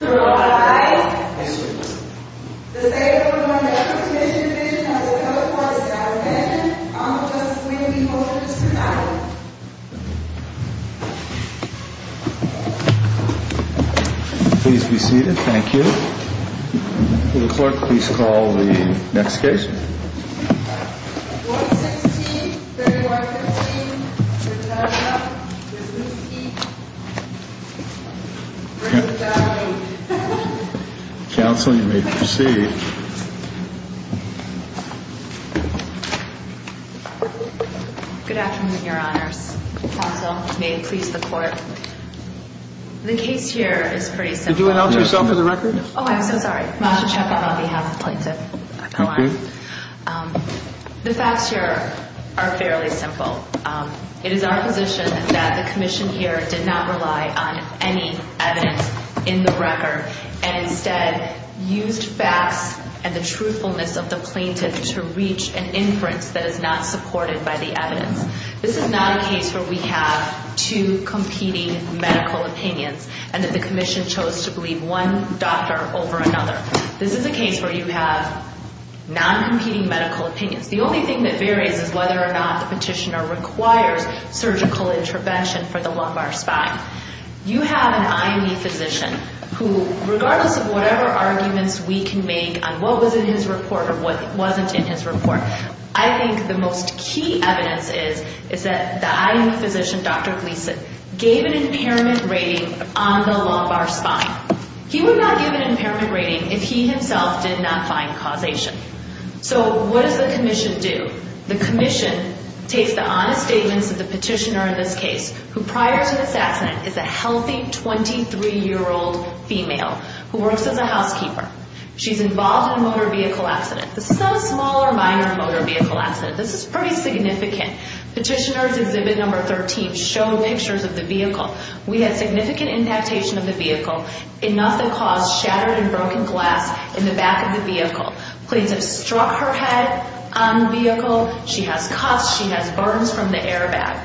Worker's Compensation Comm'n Counsel, you may proceed. Good afternoon, your honors. Counsel, may it please the court. The case here is pretty simple. Did you announce yourself to the record? Oh, I'm so sorry. Masha Chekov on behalf of plaintiff. Okay. The facts here are fairly simple. It is our position that the commission here did not rely on any evidence in the record and instead used facts and the truthfulness of the plaintiff to reach an inference that is not supported by the evidence. This is not a case where we have two competing medical opinions and that the commission chose to believe one doctor over another. This is a case where you have non-competing medical opinions. The only thing that varies is whether or not the petitioner requires surgical intervention for the lumbar spine. You have an IME physician who, regardless of whatever arguments we can make on what was in his report or what wasn't in his report, I think the most key evidence is that the IME physician, Dr. Gleason, gave an impairment rating on the lumbar spine. He would not give an impairment rating if he himself did not find causation. So what does the commission do? The commission takes the honest statements of the petitioner in this case, who prior to this accident is a healthy 23-year-old female who works as a housekeeper. She's involved in a motor vehicle accident. This is not a small or minor motor vehicle accident. This is pretty significant. Petitioner's exhibit number 13 showed pictures of the vehicle. We had significant inactivation of the vehicle, enough that caused shattered and broken glass in the back of the vehicle. Planes have struck her head on the vehicle. She has coughs. She has burns from the airbag.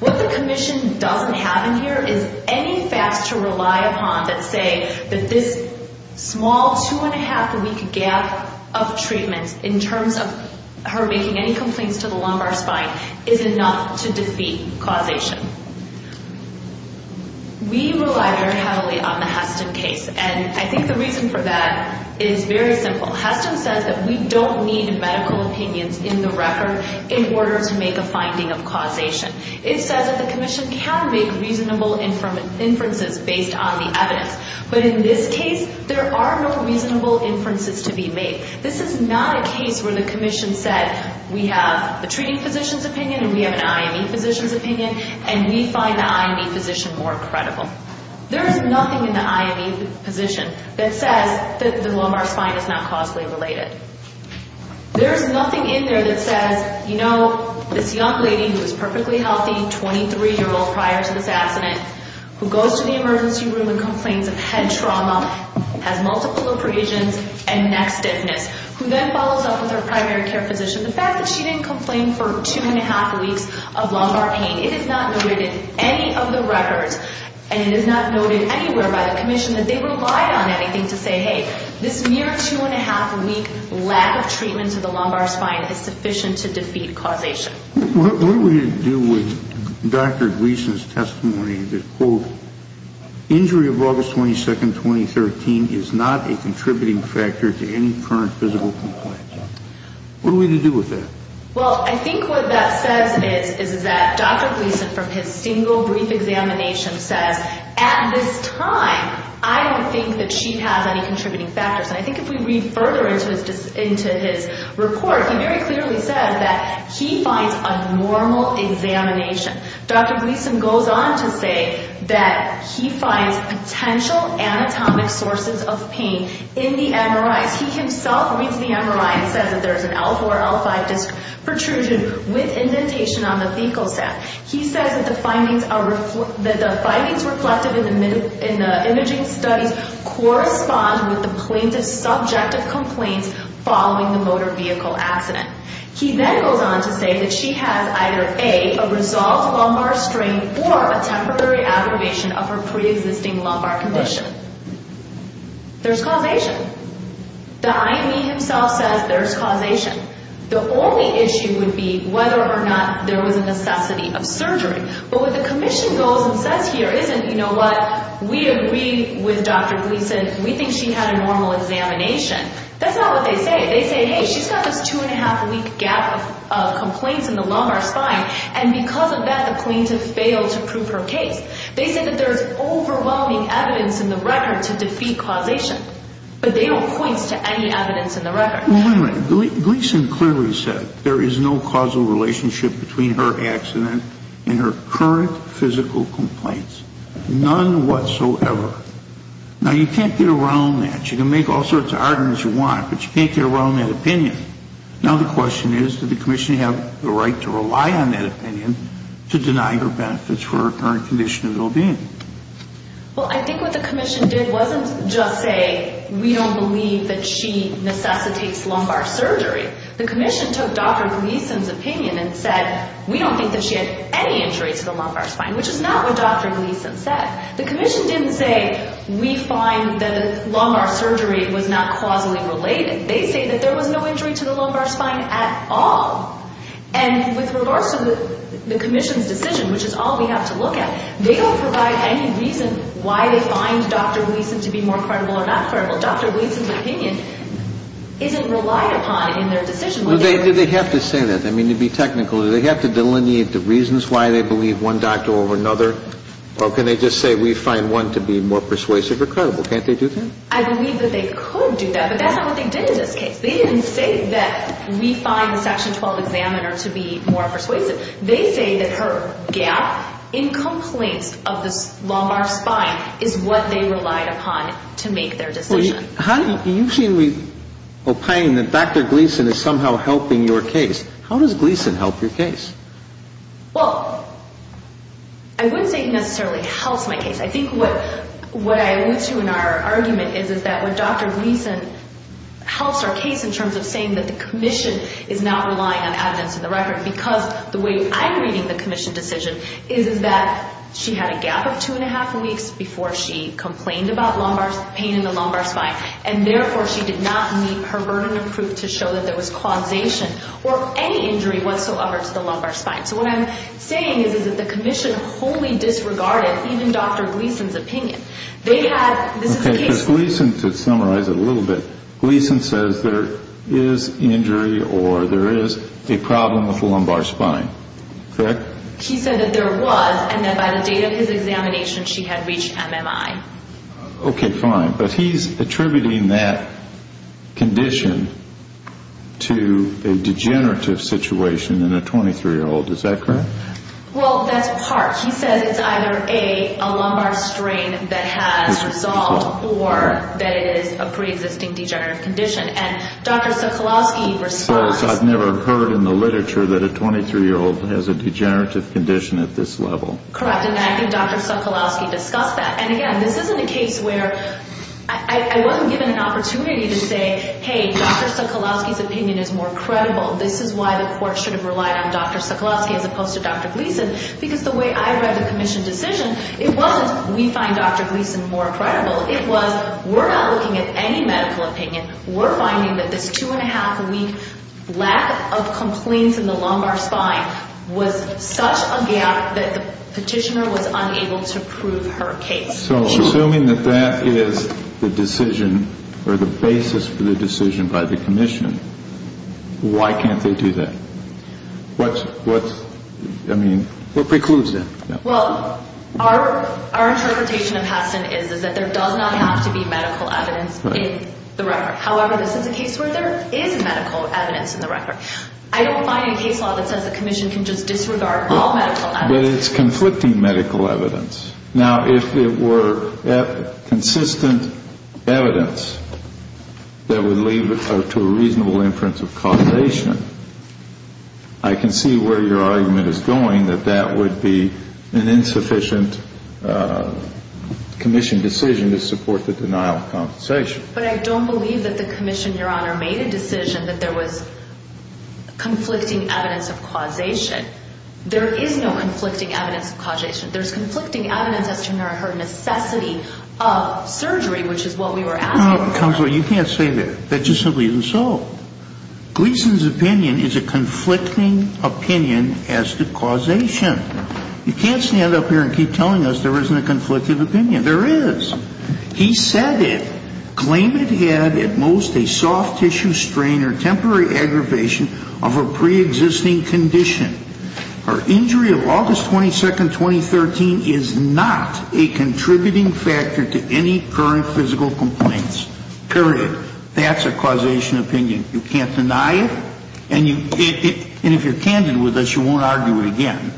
What the commission doesn't have in here is any facts to rely upon that say that this small, two-and-a-half-a-week gap of treatment in terms of her making any complaints to the lumbar spine is enough to defeat causation. We rely very heavily on the Heston case, and I think the reason for that is very simple. Heston says that we don't need medical opinions in the record in order to make a finding of causation. It says that the commission can make reasonable inferences based on the evidence, but in this case, there are no reasonable inferences to be made. This is not a case where the commission said we have a treating physician's opinion and we have an IME physician's opinion, and we find the IME physician more credible. There is nothing in the IME physician that says that the lumbar spine is not causally related. There is nothing in there that says, you know, this young lady who is perfectly healthy, 23-year-old prior to this accident, who goes to the emergency room and complains of head trauma, has multiple abrasions and neck stiffness, who then follows up with her primary care physician. The fact that she didn't complain for two-and-a-half weeks of lumbar pain, it is not noted in any of the records, and it is not noted anywhere by the commission, that they relied on anything to say, hey, this mere two-and-a-half week lack of treatment to the lumbar spine is sufficient to defeat causation. What do we do with Dr. Gleason's testimony that, quote, injury of August 22, 2013 is not a contributing factor to any current physical complaint? What do we do with that? Well, I think what that says is that Dr. Gleason, from his single brief examination, says, at this time, I don't think that she has any contributing factors. And I think if we read further into his report, he very clearly said that he finds a normal examination. Dr. Gleason goes on to say that he finds potential anatomic sources of pain in the MRIs. He himself reads the MRI and says that there is an L4, L5 protrusion with indentation on the fecal sac. He says that the findings reflected in the imaging studies correspond with the plaintiff's subjective complaints following the motor vehicle accident. He then goes on to say that she has either, A, a resolved lumbar strain or a temporary aggravation of her preexisting lumbar condition. There's causation. The IME himself says there's causation. The only issue would be whether or not there was a necessity of surgery. But what the commission goes and says here isn't, you know what, we agree with Dr. Gleason. We think she had a normal examination. That's not what they say. They say, hey, she's got this two-and-a-half-week gap of complaints in the lumbar spine, and because of that, the plaintiff failed to prove her case. They say that there's overwhelming evidence in the record to defeat causation, but they don't point to any evidence in the record. Well, wait a minute. Gleason clearly said there is no causal relationship between her accident and her current physical complaints, none whatsoever. Now, you can't get around that. You can make all sorts of arguments you want, but you can't get around that opinion. Now the question is, does the commission have the right to rely on that opinion to deny her benefits for her current condition of well-being? Well, I think what the commission did wasn't just say, we don't believe that she necessitates lumbar surgery. The commission took Dr. Gleason's opinion and said, we don't think that she had any injury to the lumbar spine, which is not what Dr. Gleason said. The commission didn't say, we find the lumbar surgery was not causally related. They say that there was no injury to the lumbar spine at all. And with regards to the commission's decision, which is all we have to look at, they don't provide any reason why they find Dr. Gleason to be more credible or not credible. Dr. Gleason's opinion isn't relied upon in their decision. Well, do they have to say that? I mean, to be technical, do they have to delineate the reasons why they believe one doctor over another? Or can they just say, we find one to be more persuasive or credible? Can't they do that? I believe that they could do that, but that's not what they did in this case. They didn't say that we find the Section 12 examiner to be more persuasive. They say that her gap in complaints of the lumbar spine is what they relied upon to make their decision. You seem to be opining that Dr. Gleason is somehow helping your case. How does Gleason help your case? Well, I wouldn't say he necessarily helps my case. I think what I allude to in our argument is that when Dr. Gleason helps our case in terms of saying that the commission is not relying on evidence in the record, because the way I'm reading the commission decision is that she had a gap of two and a half weeks before she complained about pain in the lumbar spine, and therefore she did not meet her burden of proof to show that there was causation or any injury whatsoever to the lumbar spine. So what I'm saying is that the commission wholly disregarded even Dr. Gleason's opinion. They had – this is the case – Okay, because Gleason – to summarize it a little bit – Gleason says there is injury or there is a problem with the lumbar spine, correct? He said that there was, and that by the date of his examination she had reached MMI. Okay, fine. But he's attributing that condition to a degenerative situation in a 23-year-old. Is that correct? Well, that's part. He says it's either a lumbar strain that has resolved or that it is a preexisting degenerative condition. And Dr. Sokolowski responds – I've never heard in the literature that a 23-year-old has a degenerative condition at this level. Correct. And I think Dr. Sokolowski discussed that. And again, this isn't a case where – I wasn't given an opportunity to say, hey, Dr. Sokolowski's opinion is more credible. This is why the court should have relied on Dr. Sokolowski as opposed to Dr. Gleason, because the way I read the commission decision, it wasn't we find Dr. Gleason more credible. It was we're not looking at any medical opinion. We're finding that this two-and-a-half-week lack of complaints in the lumbar spine was such a gap that the petitioner was unable to prove her case. So assuming that that is the decision or the basis for the decision by the commission, why can't they do that? What precludes that? Well, our interpretation of Heston is that there does not have to be medical evidence in the record. However, this is a case where there is medical evidence in the record. I don't find any case law that says the commission can just disregard all medical evidence. But it's conflicting medical evidence. Now, if it were consistent evidence that would lead to a reasonable inference of causation, I can see where your argument is going, that that would be an insufficient commission decision to support the denial of compensation. But I don't believe that the commission, Your Honor, made a decision that there was conflicting evidence of causation. There is no conflicting evidence of causation. There's conflicting evidence as to her necessity of surgery, which is what we were asking for. Your Honor, counsel, you can't say that. That just simply isn't so. Gleason's opinion is a conflicting opinion as to causation. You can't stand up here and keep telling us there isn't a conflicted opinion. There is. He said it. Claim it had at most a soft tissue strain or temporary aggravation of her preexisting condition. Her injury of August 22nd, 2013 is not a contributing factor to any current physical complaints. Period. That's a causation opinion. You can't deny it. And if you're candid with us, you won't argue it again.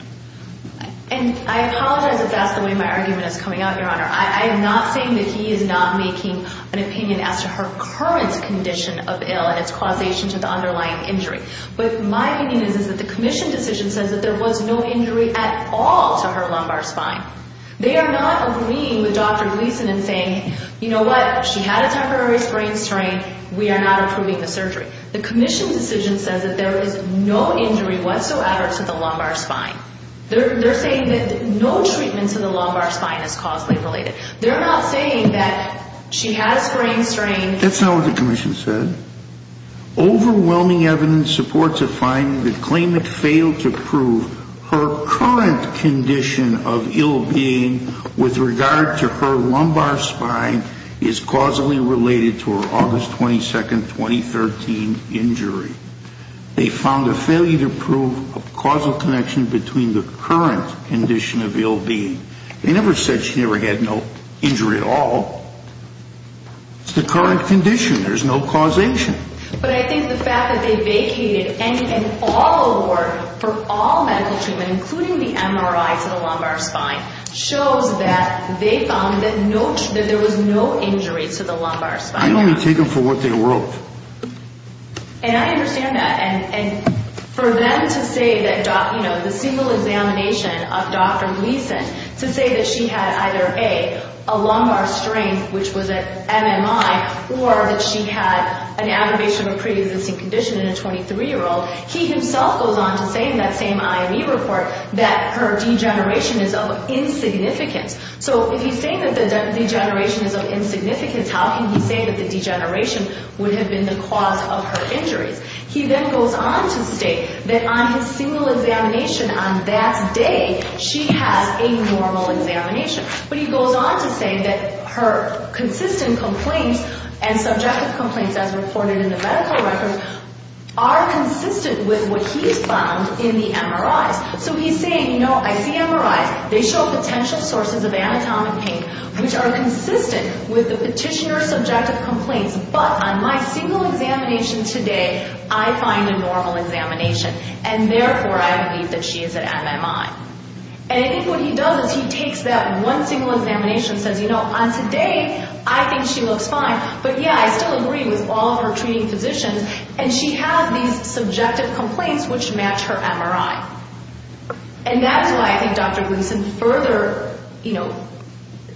And I apologize if that's the way my argument is coming out, Your Honor. I am not saying that he is not making an opinion as to her current condition of ill and its causation to the underlying injury. What my opinion is is that the commission decision says that there was no injury at all to her lumbar spine. They are not agreeing with Dr. Gleason in saying, you know what, she had a temporary sprain strain. We are not approving the surgery. The commission decision says that there is no injury whatsoever to the lumbar spine. They're saying that no treatment to the lumbar spine is causally related. They're not saying that she had a sprain strain. That's not what the commission said. Overwhelming evidence supports a finding that claimant failed to prove her current condition of ill being with regard to her lumbar spine is causally related to her August 22, 2013 injury. They found a failure to prove a causal connection between the current condition of ill being. They never said she never had no injury at all. It's the current condition. There's no causation. But I think the fact that they vacated any and all award for all medical treatment, including the MRI to the lumbar spine, shows that they found that there was no injury to the lumbar spine. I don't want to take them for what they wrote. And I understand that. And for them to say that, you know, the single examination of Dr. Gleason, to say that she had either, A, a lumbar strain, which was an MMI, or that she had an aggravation of a preexisting condition in a 23-year-old, he himself goes on to say in that same IME report that her degeneration is of insignificance. So if he's saying that the degeneration is of insignificance, how can he say that the degeneration would have been the cause of her injuries? He then goes on to state that on his single examination on that day, she has a normal examination. But he goes on to say that her consistent complaints and subjective complaints, as reported in the medical records, are consistent with what he's found in the MRIs. So he's saying, you know, I see MRIs. They show potential sources of anatomic pain, which are consistent with the petitioner's subjective complaints. But on my single examination today, I find a normal examination. And therefore, I believe that she is at MMI. And I think what he does is he takes that one single examination and says, you know, on today, I think she looks fine. But, yeah, I still agree with all of her treating physicians. And she has these subjective complaints which match her MRI. And that's why I think Dr. Gleason further, you know,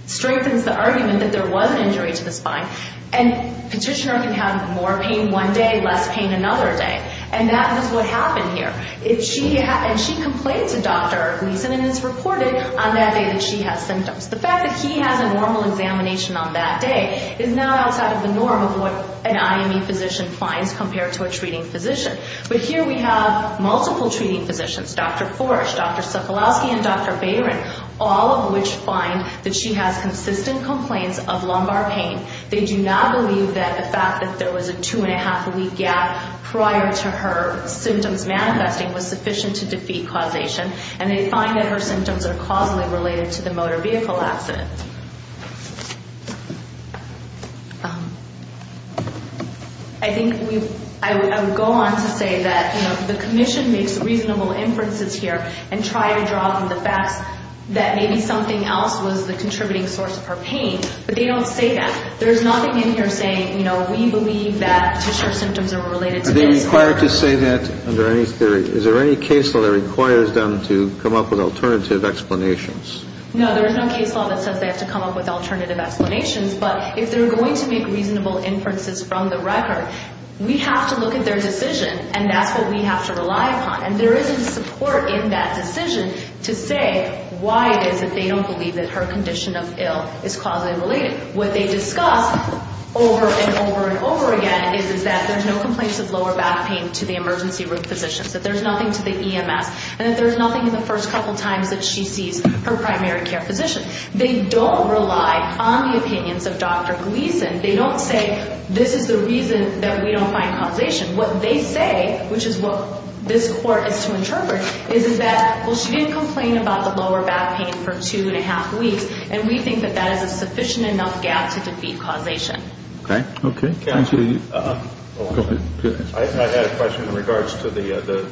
strengthens the argument that there was an injury to the spine. And petitioner can have more pain one day, less pain another day. And that is what happened here. And she complains to Dr. Gleason, and it's reported on that day that she has symptoms. The fact that he has a normal examination on that day is not outside of the norm of what an IME physician finds compared to a treating physician. But here we have multiple treating physicians, Dr. Foresh, Dr. Cicholowski, and Dr. Bayron, all of which find that she has consistent complaints of lumbar pain. They do not believe that the fact that there was a two-and-a-half-a-week gap prior to her symptoms manifesting was sufficient to defeat causation. And they find that her symptoms are causally related to the motor vehicle accident. I think I would go on to say that, you know, the commission makes reasonable inferences here and try to draw from the facts that maybe something else was the contributing source of her pain. But they don't say that. There is nothing in here saying, you know, we believe that tissue symptoms are related to this. Are they required to say that under any theory? Is there any case law that requires them to come up with alternative explanations? No, there is no case law that says they have to come up with alternative explanations. But if they're going to make reasonable inferences from the record, we have to look at their decision, and that's what we have to rely upon. And there is a support in that decision to say why it is that they don't believe that her condition of ill is causally related. What they discuss over and over and over again is that there's no complaints of lower back pain to the emergency room physicians, that there's nothing to the EMS, and that there's nothing in the first couple times that she sees her primary care physician. They don't rely on the opinions of Dr. Gleason. They don't say, this is the reason that we don't find causation. What they say, which is what this Court is to interpret, is that, well, she didn't complain about the lower back pain for two and a half weeks, and we think that that is a sufficient enough gap to defeat causation. Okay. Okay. Go ahead. I had a question in regards to the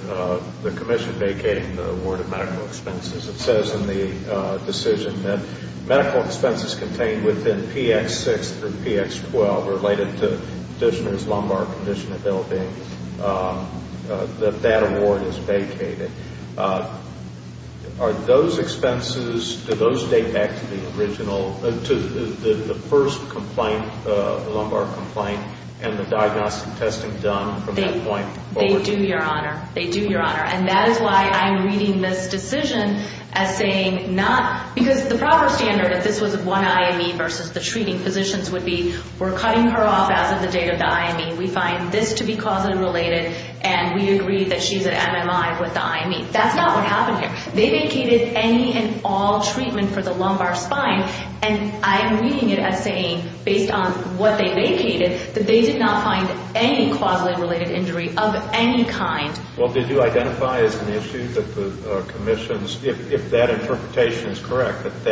commission vacating the award of medical expenses. It says in the decision that medical expenses contained within PX6 through PX12 related to conditioners' lumbar condition of ill being, that that award is vacated. Are those expenses, do those date back to the original, to the first complaint, the lumbar complaint, and the diagnostic testing done from that point forward? They do, Your Honor. They do, Your Honor. And that is why I'm reading this decision as saying not, because the proper standard if this was one IME versus the treating physicians would be, we're cutting her off as of the date of the IME. We find this to be causally related, and we agree that she's an MMI with the IME. That's not what happened here. They vacated any and all treatment for the lumbar spine, and I'm reading it as saying, based on what they vacated, that they did not find any causally related injury of any kind. Well, did you identify as an issue that the commissions, if that interpretation is correct, that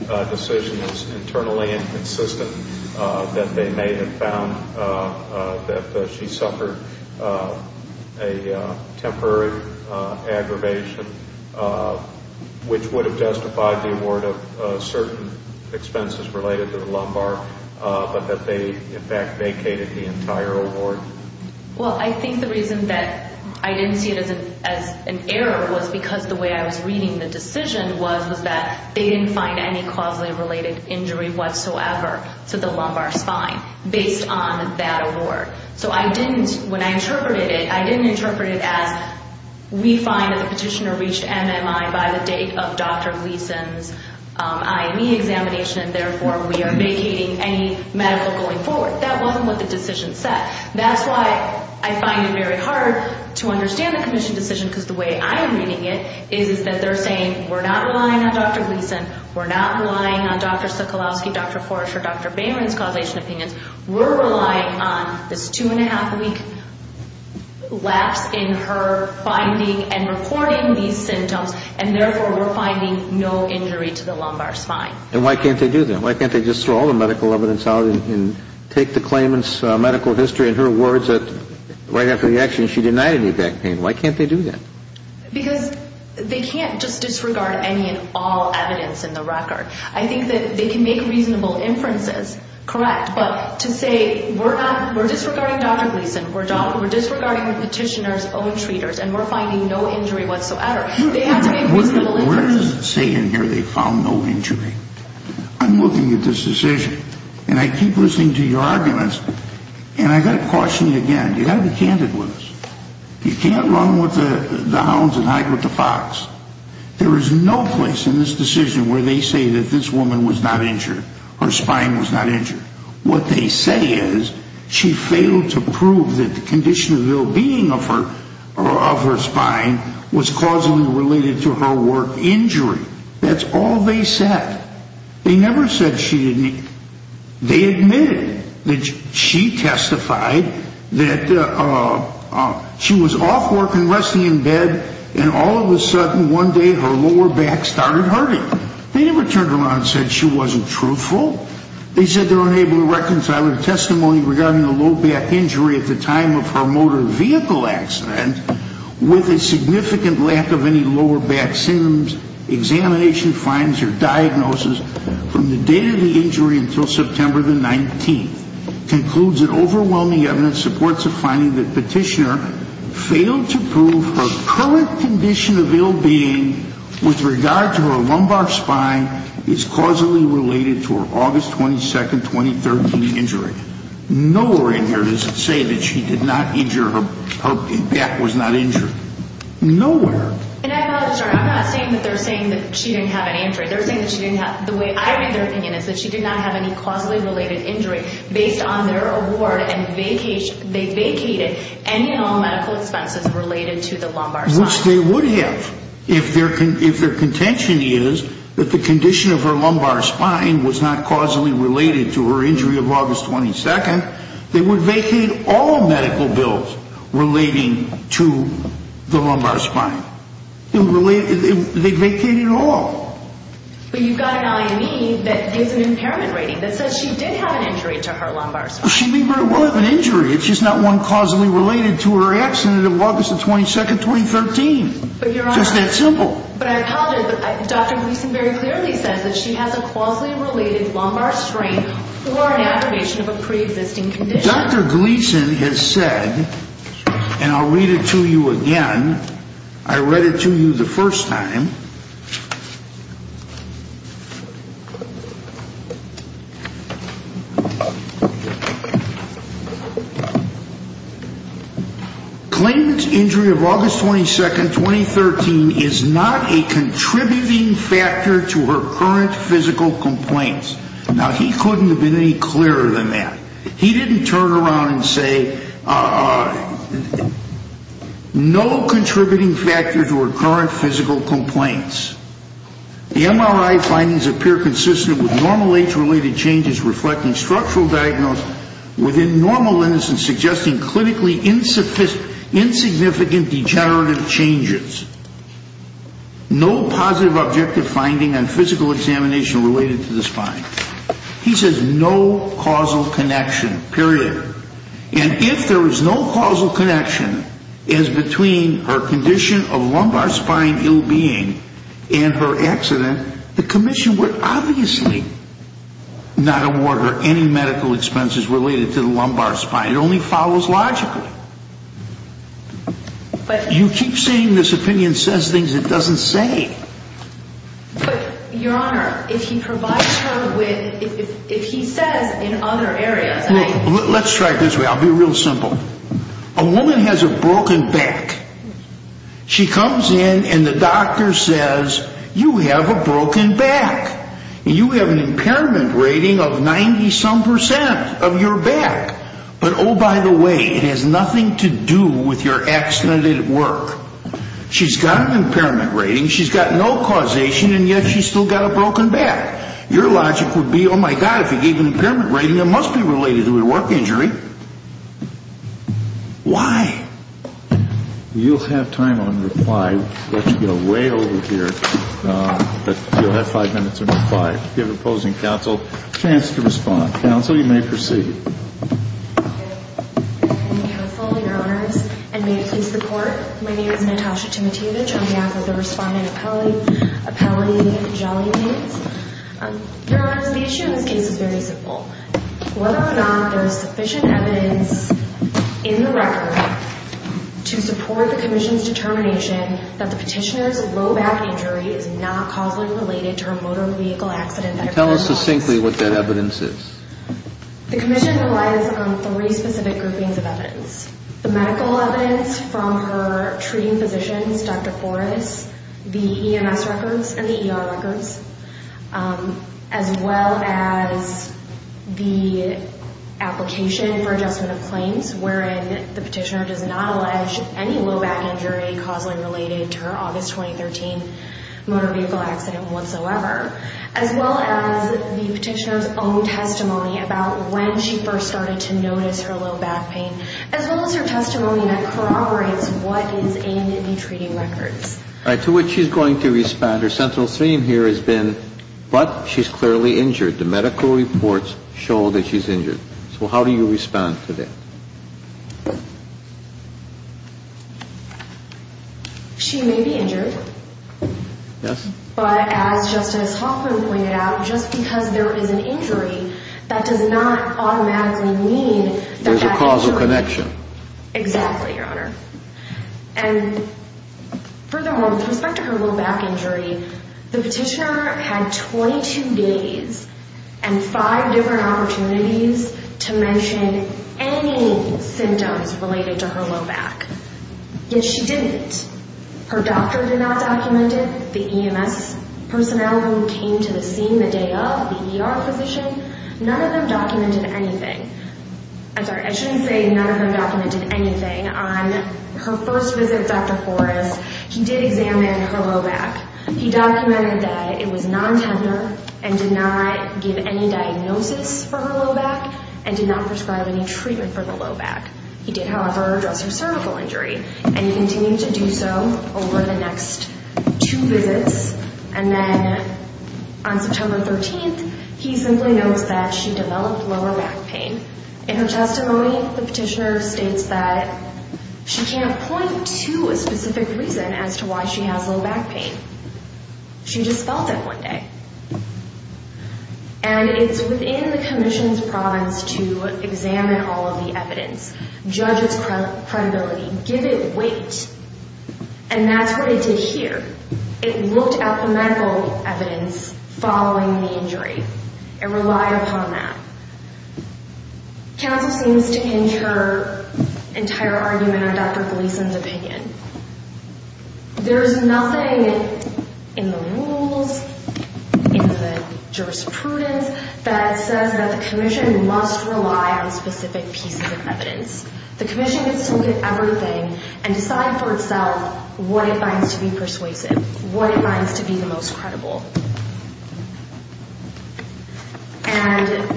that decision is internally inconsistent, that they may have found that she suffered a temporary aggravation, which would have justified the award of certain expenses related to the lumbar, but that they, in fact, vacated the entire award? Well, I think the reason that I didn't see it as an error was because the way I was reading the decision was, was that they didn't find any causally related injury whatsoever to the lumbar spine based on that award. So I didn't, when I interpreted it, I didn't interpret it as, we find that the petitioner reached MMI by the date of Dr. Gleason's IME examination, and therefore we are vacating any medical going forward. That wasn't what the decision said. That's why I find it very hard to understand the commission decision, because the way I'm reading it is that they're saying, we're not relying on Dr. Gleason, we're not relying on Dr. Sokolowski, Dr. Foresh or Dr. Bayron's causation opinions, we're relying on this two and a half week lapse in her finding and reporting these symptoms, and therefore we're finding no injury to the lumbar spine. And why can't they do that? Why can't they just throw all the medical evidence out and take the claimant's medical history and her words that right after the action she denied any back pain? Why can't they do that? Because they can't just disregard any and all evidence in the record. I think that they can make reasonable inferences, correct, but to say we're disregarding Dr. Gleason, we're disregarding the petitioner's own treaters, and we're finding no injury whatsoever, they have to make reasonable inferences. Now, where does it say in here they found no injury? I'm looking at this decision, and I keep listening to your arguments, and I've got to caution you again, you've got to be candid with us. You can't run with the hounds and hide with the fox. There is no place in this decision where they say that this woman was not injured, her spine was not injured. What they say is she failed to prove that the condition of well-being of her spine was causally related to her work injury. That's all they said. They never said she didn't. They admitted that she testified that she was off work and resting in bed, and all of a sudden one day her lower back started hurting. They never turned around and said she wasn't truthful. They said they're unable to reconcile her testimony regarding the low back injury at the time of her motor vehicle accident with a significant lack of any lower back symptoms. Examination finds her diagnosis from the date of the injury until September the 19th. It concludes that overwhelming evidence supports the finding that Petitioner failed to prove her current condition of ill-being with regard to her lumbar spine is causally related to her August 22, 2013 injury. Nowhere in here does it say that she did not injure, her back was not injured. Nowhere. And I apologize. I'm not saying that they're saying that she didn't have any injury. They're saying that she didn't have, the way I read their opinion, is that she did not have any causally related injury based on their award and they vacated any and all medical expenses related to the lumbar spine. Which they would have if their contention is that the condition of her lumbar spine was not causally related to her injury of August 22. They would vacate all medical bills relating to the lumbar spine. They'd vacate it all. But you've got an IME that gives an impairment rating that says she did have an injury to her lumbar spine. She may very well have an injury. It's just not one causally related to her accident of August 22, 2013. Just that simple. But I apologize. Dr. Gleason very clearly says that she has a causally related lumbar strain or an aggravation of a preexisting condition. Dr. Gleason has said, and I'll read it to you again. I read it to you the first time. Claimant's injury of August 22, 2013 is not a contributing factor to her current physical complaints. Now, he couldn't have been any clearer than that. He didn't turn around and say, no contributing factors to her current physical complaints. The MRI findings appear consistent with normal age-related changes reflecting structural diagnosis within normal innocence suggesting clinically insignificant degenerative changes. No positive objective finding on physical examination related to the spine. He says no causal connection, period. And if there is no causal connection as between her condition of lumbar spine ill-being and her accident, the commission would obviously not award her any medical expenses related to the lumbar spine. It only follows logically. You keep saying this opinion says things it doesn't say. But, Your Honor, if he provides her with, if he says in other areas. Let's try it this way. I'll be real simple. A woman has a broken back. She comes in and the doctor says, you have a broken back. You have an impairment rating of 90-some percent of your back. But, oh, by the way, it has nothing to do with your accident at work. She's got an impairment rating, she's got no causation, and yet she's still got a broken back. Your logic would be, oh, my God, if he gave an impairment rating, it must be related to a work injury. Why? You'll have time on reply. I'll let you go way over here. But you'll have five minutes of reply. If you have opposing counsel, a chance to respond. Counsel, you may proceed. Your Honors, and may it please the Court. My name is Natasha Timotievich. I'm the author of the Respondent Appellate, Appellate and Punjabi Names. Your Honors, the issue in this case is very simple. Whether or not there is sufficient evidence in the record to support the commission's determination that the petitioner's low back injury is not causally related to her motor vehicle accident. Tell us succinctly what that evidence is. The commission relies on three specific groupings of evidence. The medical evidence from her treating physicians, Dr. Forrest, the EMS records and the ER records, as well as the application for adjustment of claims wherein the petitioner does not allege any low back injury causally related to her August 2013 motor vehicle accident whatsoever, as well as the petitioner's own testimony about when she first started to notice her low back pain, as well as her testimony that corroborates what is aimed at the treating records. All right, to which she's going to respond. Her central theme here has been, but she's clearly injured. The medical reports show that she's injured. So how do you respond to that? She may be injured. Yes? But as Justice Hoffman pointed out, just because there is an injury, that does not automatically mean that that is true. There's a causal connection. Exactly, Your Honor. And furthermore, with respect to her low back injury, the petitioner had 22 days and five different opportunities to mention any symptoms related to her low back. Yet she didn't. Her doctor did not document it. The EMS personnel who came to the scene the day of, the ER physician, none of them documented anything. I'm sorry, I shouldn't say none of them documented anything. On her first visit with Dr. Forrest, he did examine her low back. He documented that it was non-tender and did not give any diagnosis for her low back and did not prescribe any treatment for the low back. He did, however, address her cervical injury, and he continued to do so over the next two visits. And then on September 13th, he simply notes that she developed lower back pain. In her testimony, the petitioner states that she can't point to a specific reason as to why she has low back pain. She just felt it one day. And it's within the commission's province to examine all of the evidence, judge its credibility, give it weight. And that's what it did here. It looked at the medical evidence following the injury. It relied upon that. Counsel seems to hinge her entire argument on Dr. Gleason's opinion. There is nothing in the rules, in the jurisprudence, that says that the commission must rely on specific pieces of evidence. The commission gets to look at everything and decide for itself what it finds to be persuasive, what it finds to be the most credible. And the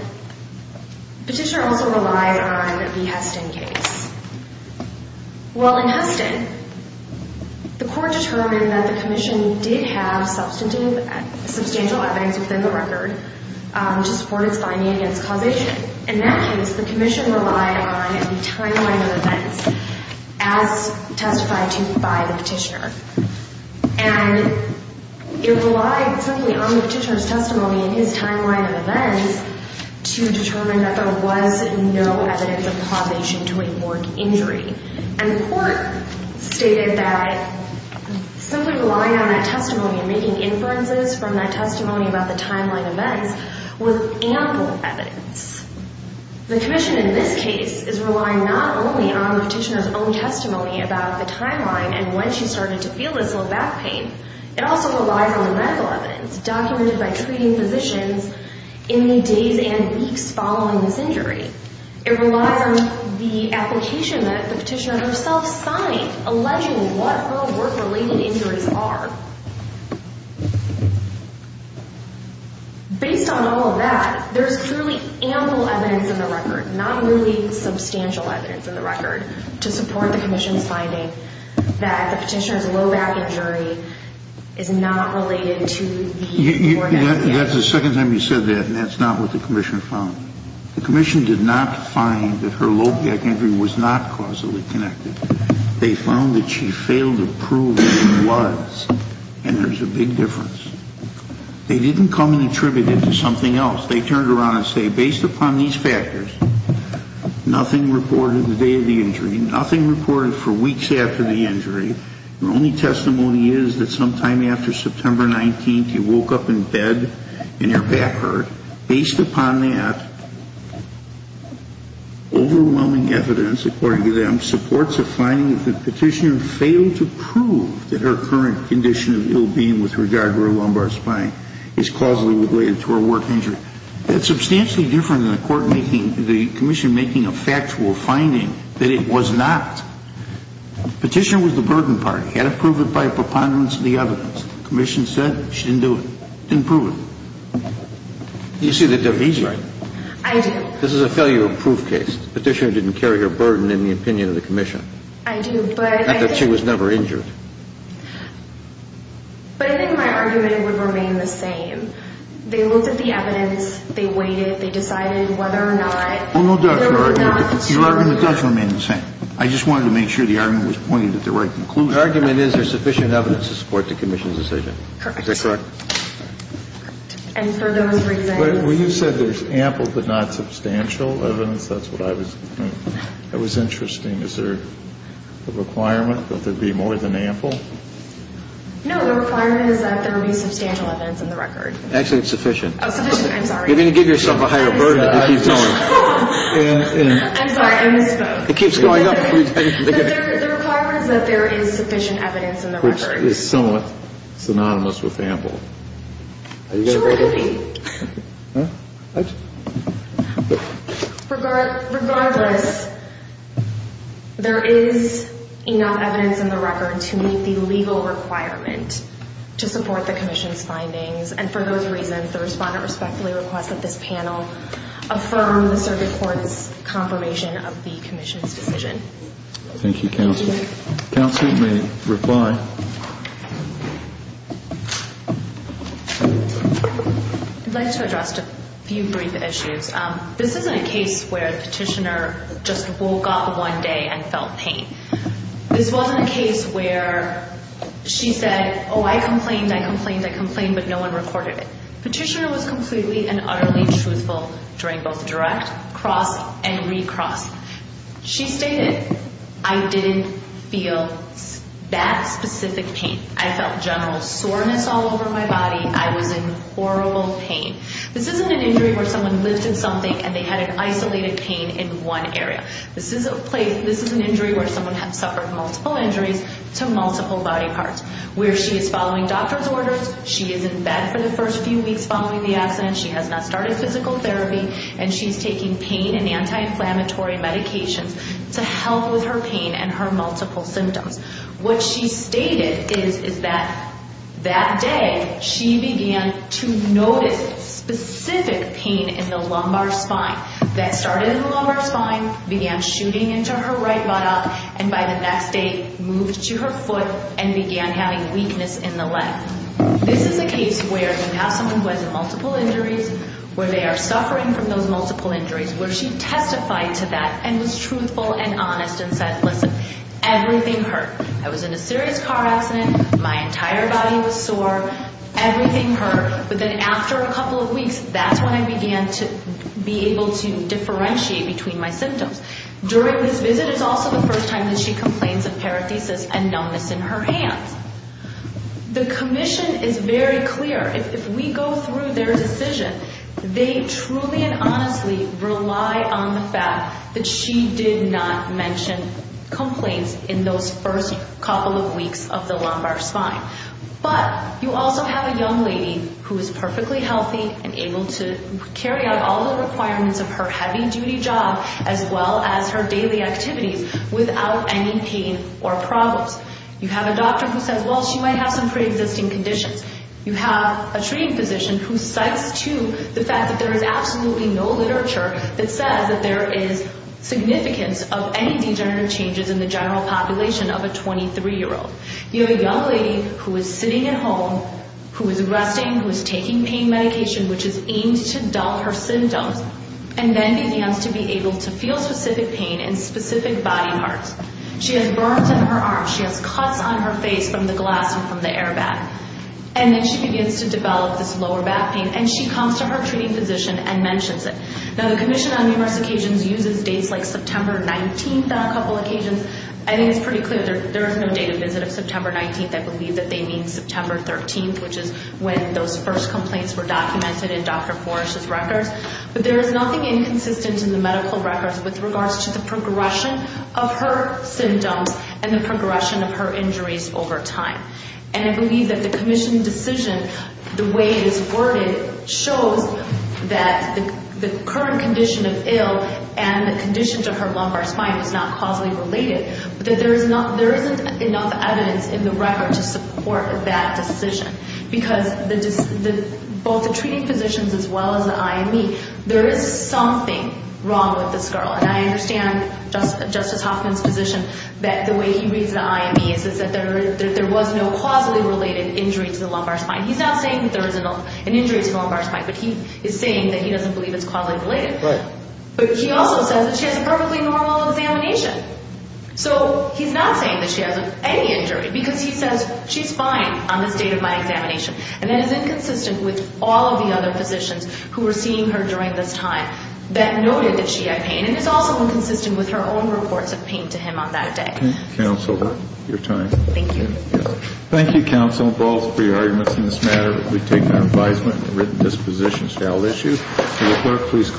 petitioner also relied on the Heston case. Well, in Heston, the court determined that the commission did have substantial evidence within the record to support its finding against causation. In that case, the commission relied on a timeline of events as testified to by the petitioner. And it relied simply on the petitioner's testimony and his timeline of events to determine that there was no evidence of causation to a morgue injury. And the court stated that simply relying on that testimony and making inferences from that testimony about the timeline events was ample evidence. The commission in this case is relying not only on the petitioner's own testimony about the timeline and when she started to feel this low back pain. It also relies on the medical evidence documented by treating physicians in the days and weeks following this injury. It relies on the application that the petitioner herself signed alleging what her work-related injuries are. Based on all of that, there's truly ample evidence in the record, not really substantial evidence in the record, to support the commission's finding that the petitioner's low back injury is not related to the mortgage. That's the second time you said that, and that's not what the commission found. The commission did not find that her low back injury was not causally connected. They found that she failed to prove what it was, and there's a big difference. They didn't come and attribute it to something else. They turned around and say, based upon these factors, nothing reported the day of the injury, nothing reported for weeks after the injury. The only testimony is that sometime after September 19th, you woke up in bed and your back hurt. Based upon that, overwhelming evidence, according to them, supports the finding that the petitioner failed to prove that her current condition of ill-being with regard to her lumbar spine is causally related to her work injury. That's substantially different than the commission making a factual finding that it was not. The petitioner was the burden part. He had to prove it by preponderance of the evidence. The commission said she didn't do it. Didn't prove it. Do you see the division? I do. This is a failure of proof case. The petitioner didn't carry her burden in the opinion of the commission. I do. Not that she was never injured. But I think my argument would remain the same. They looked at the evidence. They weighed it. They decided whether or not. Your argument does remain the same. I just wanted to make sure the argument was pointed at the right conclusion. Your argument is there's sufficient evidence to support the commission's decision. Correct. Is that correct? Correct. And for those reasons. Well, you said there's ample but not substantial evidence. That's what I was. That was interesting. Is there a requirement that there be more than ample? No, the requirement is that there be substantial evidence in the record. Actually, it's sufficient. Oh, sufficient. I'm sorry. You're going to give yourself a higher burden. I'm sorry, I misspoke. It keeps going up. The requirement is that there is sufficient evidence in the record. Which is somewhat synonymous with ample. Surely. Regardless, there is enough evidence in the record to meet the legal requirement to support the commission's findings. And for those reasons, the respondent respectfully requests that this panel affirm the circuit court's confirmation of the commission's decision. Thank you, counsel. Counsel may reply. I'd like to address a few brief issues. This isn't a case where the petitioner just woke up one day and felt pain. This wasn't a case where she said, oh, I complained, I complained, I complained, but no one recorded it. Petitioner was completely and utterly truthful during both direct, cross, and recross. She stated, I didn't feel that specific pain. I felt general soreness all over my body. I was in horrible pain. This isn't an injury where someone lived in something and they had an isolated pain in one area. This is an injury where someone has suffered multiple injuries to multiple body parts. Where she is following doctor's orders, she is in bed for the first few weeks following the accident, she has not started physical therapy, and she is taking pain and anti-inflammatory medications to help with her pain and her multiple symptoms. What she stated is that that day she began to notice specific pain in the lumbar spine. That started in the lumbar spine, began shooting into her right buttock, and by the next day moved to her foot and began having weakness in the leg. This is a case where you have someone who has multiple injuries, where they are suffering from those multiple injuries, where she testified to that and was truthful and honest and said, listen, everything hurt. I was in a serious car accident. My entire body was sore. Everything hurt. But then after a couple of weeks, that's when I began to be able to differentiate between my symptoms. During this visit is also the first time that she complains of parathesis and numbness in her hands. The commission is very clear. If we go through their decision, they truly and honestly rely on the fact that she did not mention complaints in those first couple of weeks of the lumbar spine. But you also have a young lady who is perfectly healthy and able to carry out all the requirements of her heavy-duty job as well as her daily activities without any pain or problems. You have a doctor who says, well, she might have some preexisting conditions. You have a treating physician who cites, too, the fact that there is absolutely no literature that says that there is significance of any degenerative changes in the general population of a 23-year-old. You have a young lady who is sitting at home, who is resting, who is taking pain medication, which is aimed to dull her symptoms, and then begins to be able to feel specific pain in specific body parts. She has burns in her arms. She has cuts on her face from the glass and from the airbag. And then she begins to develop this lower back pain, and she comes to her treating physician and mentions it. Now, the commission on numerous occasions uses dates like September 19th on a couple of occasions. I think it's pretty clear there is no date of visit of September 19th. I believe that they mean September 13th, which is when those first complaints were documented in Dr. Forich's records. But there is nothing inconsistent in the medical records with regards to the progression of her symptoms and the progression of her injuries over time. And I believe that the commission decision, the way it is worded, shows that the current condition of ill and the condition to her lumbar spine is not causally related, that there isn't enough evidence in the record to support that decision. Because both the treating physicians as well as the IME, there is something wrong with this girl. And I understand Justice Hoffman's position that the way he reads the IME is that there was no causally related injury to the lumbar spine. He's not saying that there is an injury to the lumbar spine, but he is saying that he doesn't believe it's causally related. Right. But he also says that she has a perfectly normal examination. So he's not saying that she has any injury because he says she's fine on this date of my examination. And that is inconsistent with all of the other physicians who were seeing her during this time that noted that she had pain. And it's also inconsistent with her own reports of pain to him on that day. Counsel, your time. Thank you. Thank you, Counsel Balls, for your arguments in this matter. We take that advisement and written disposition as a valid issue. Please.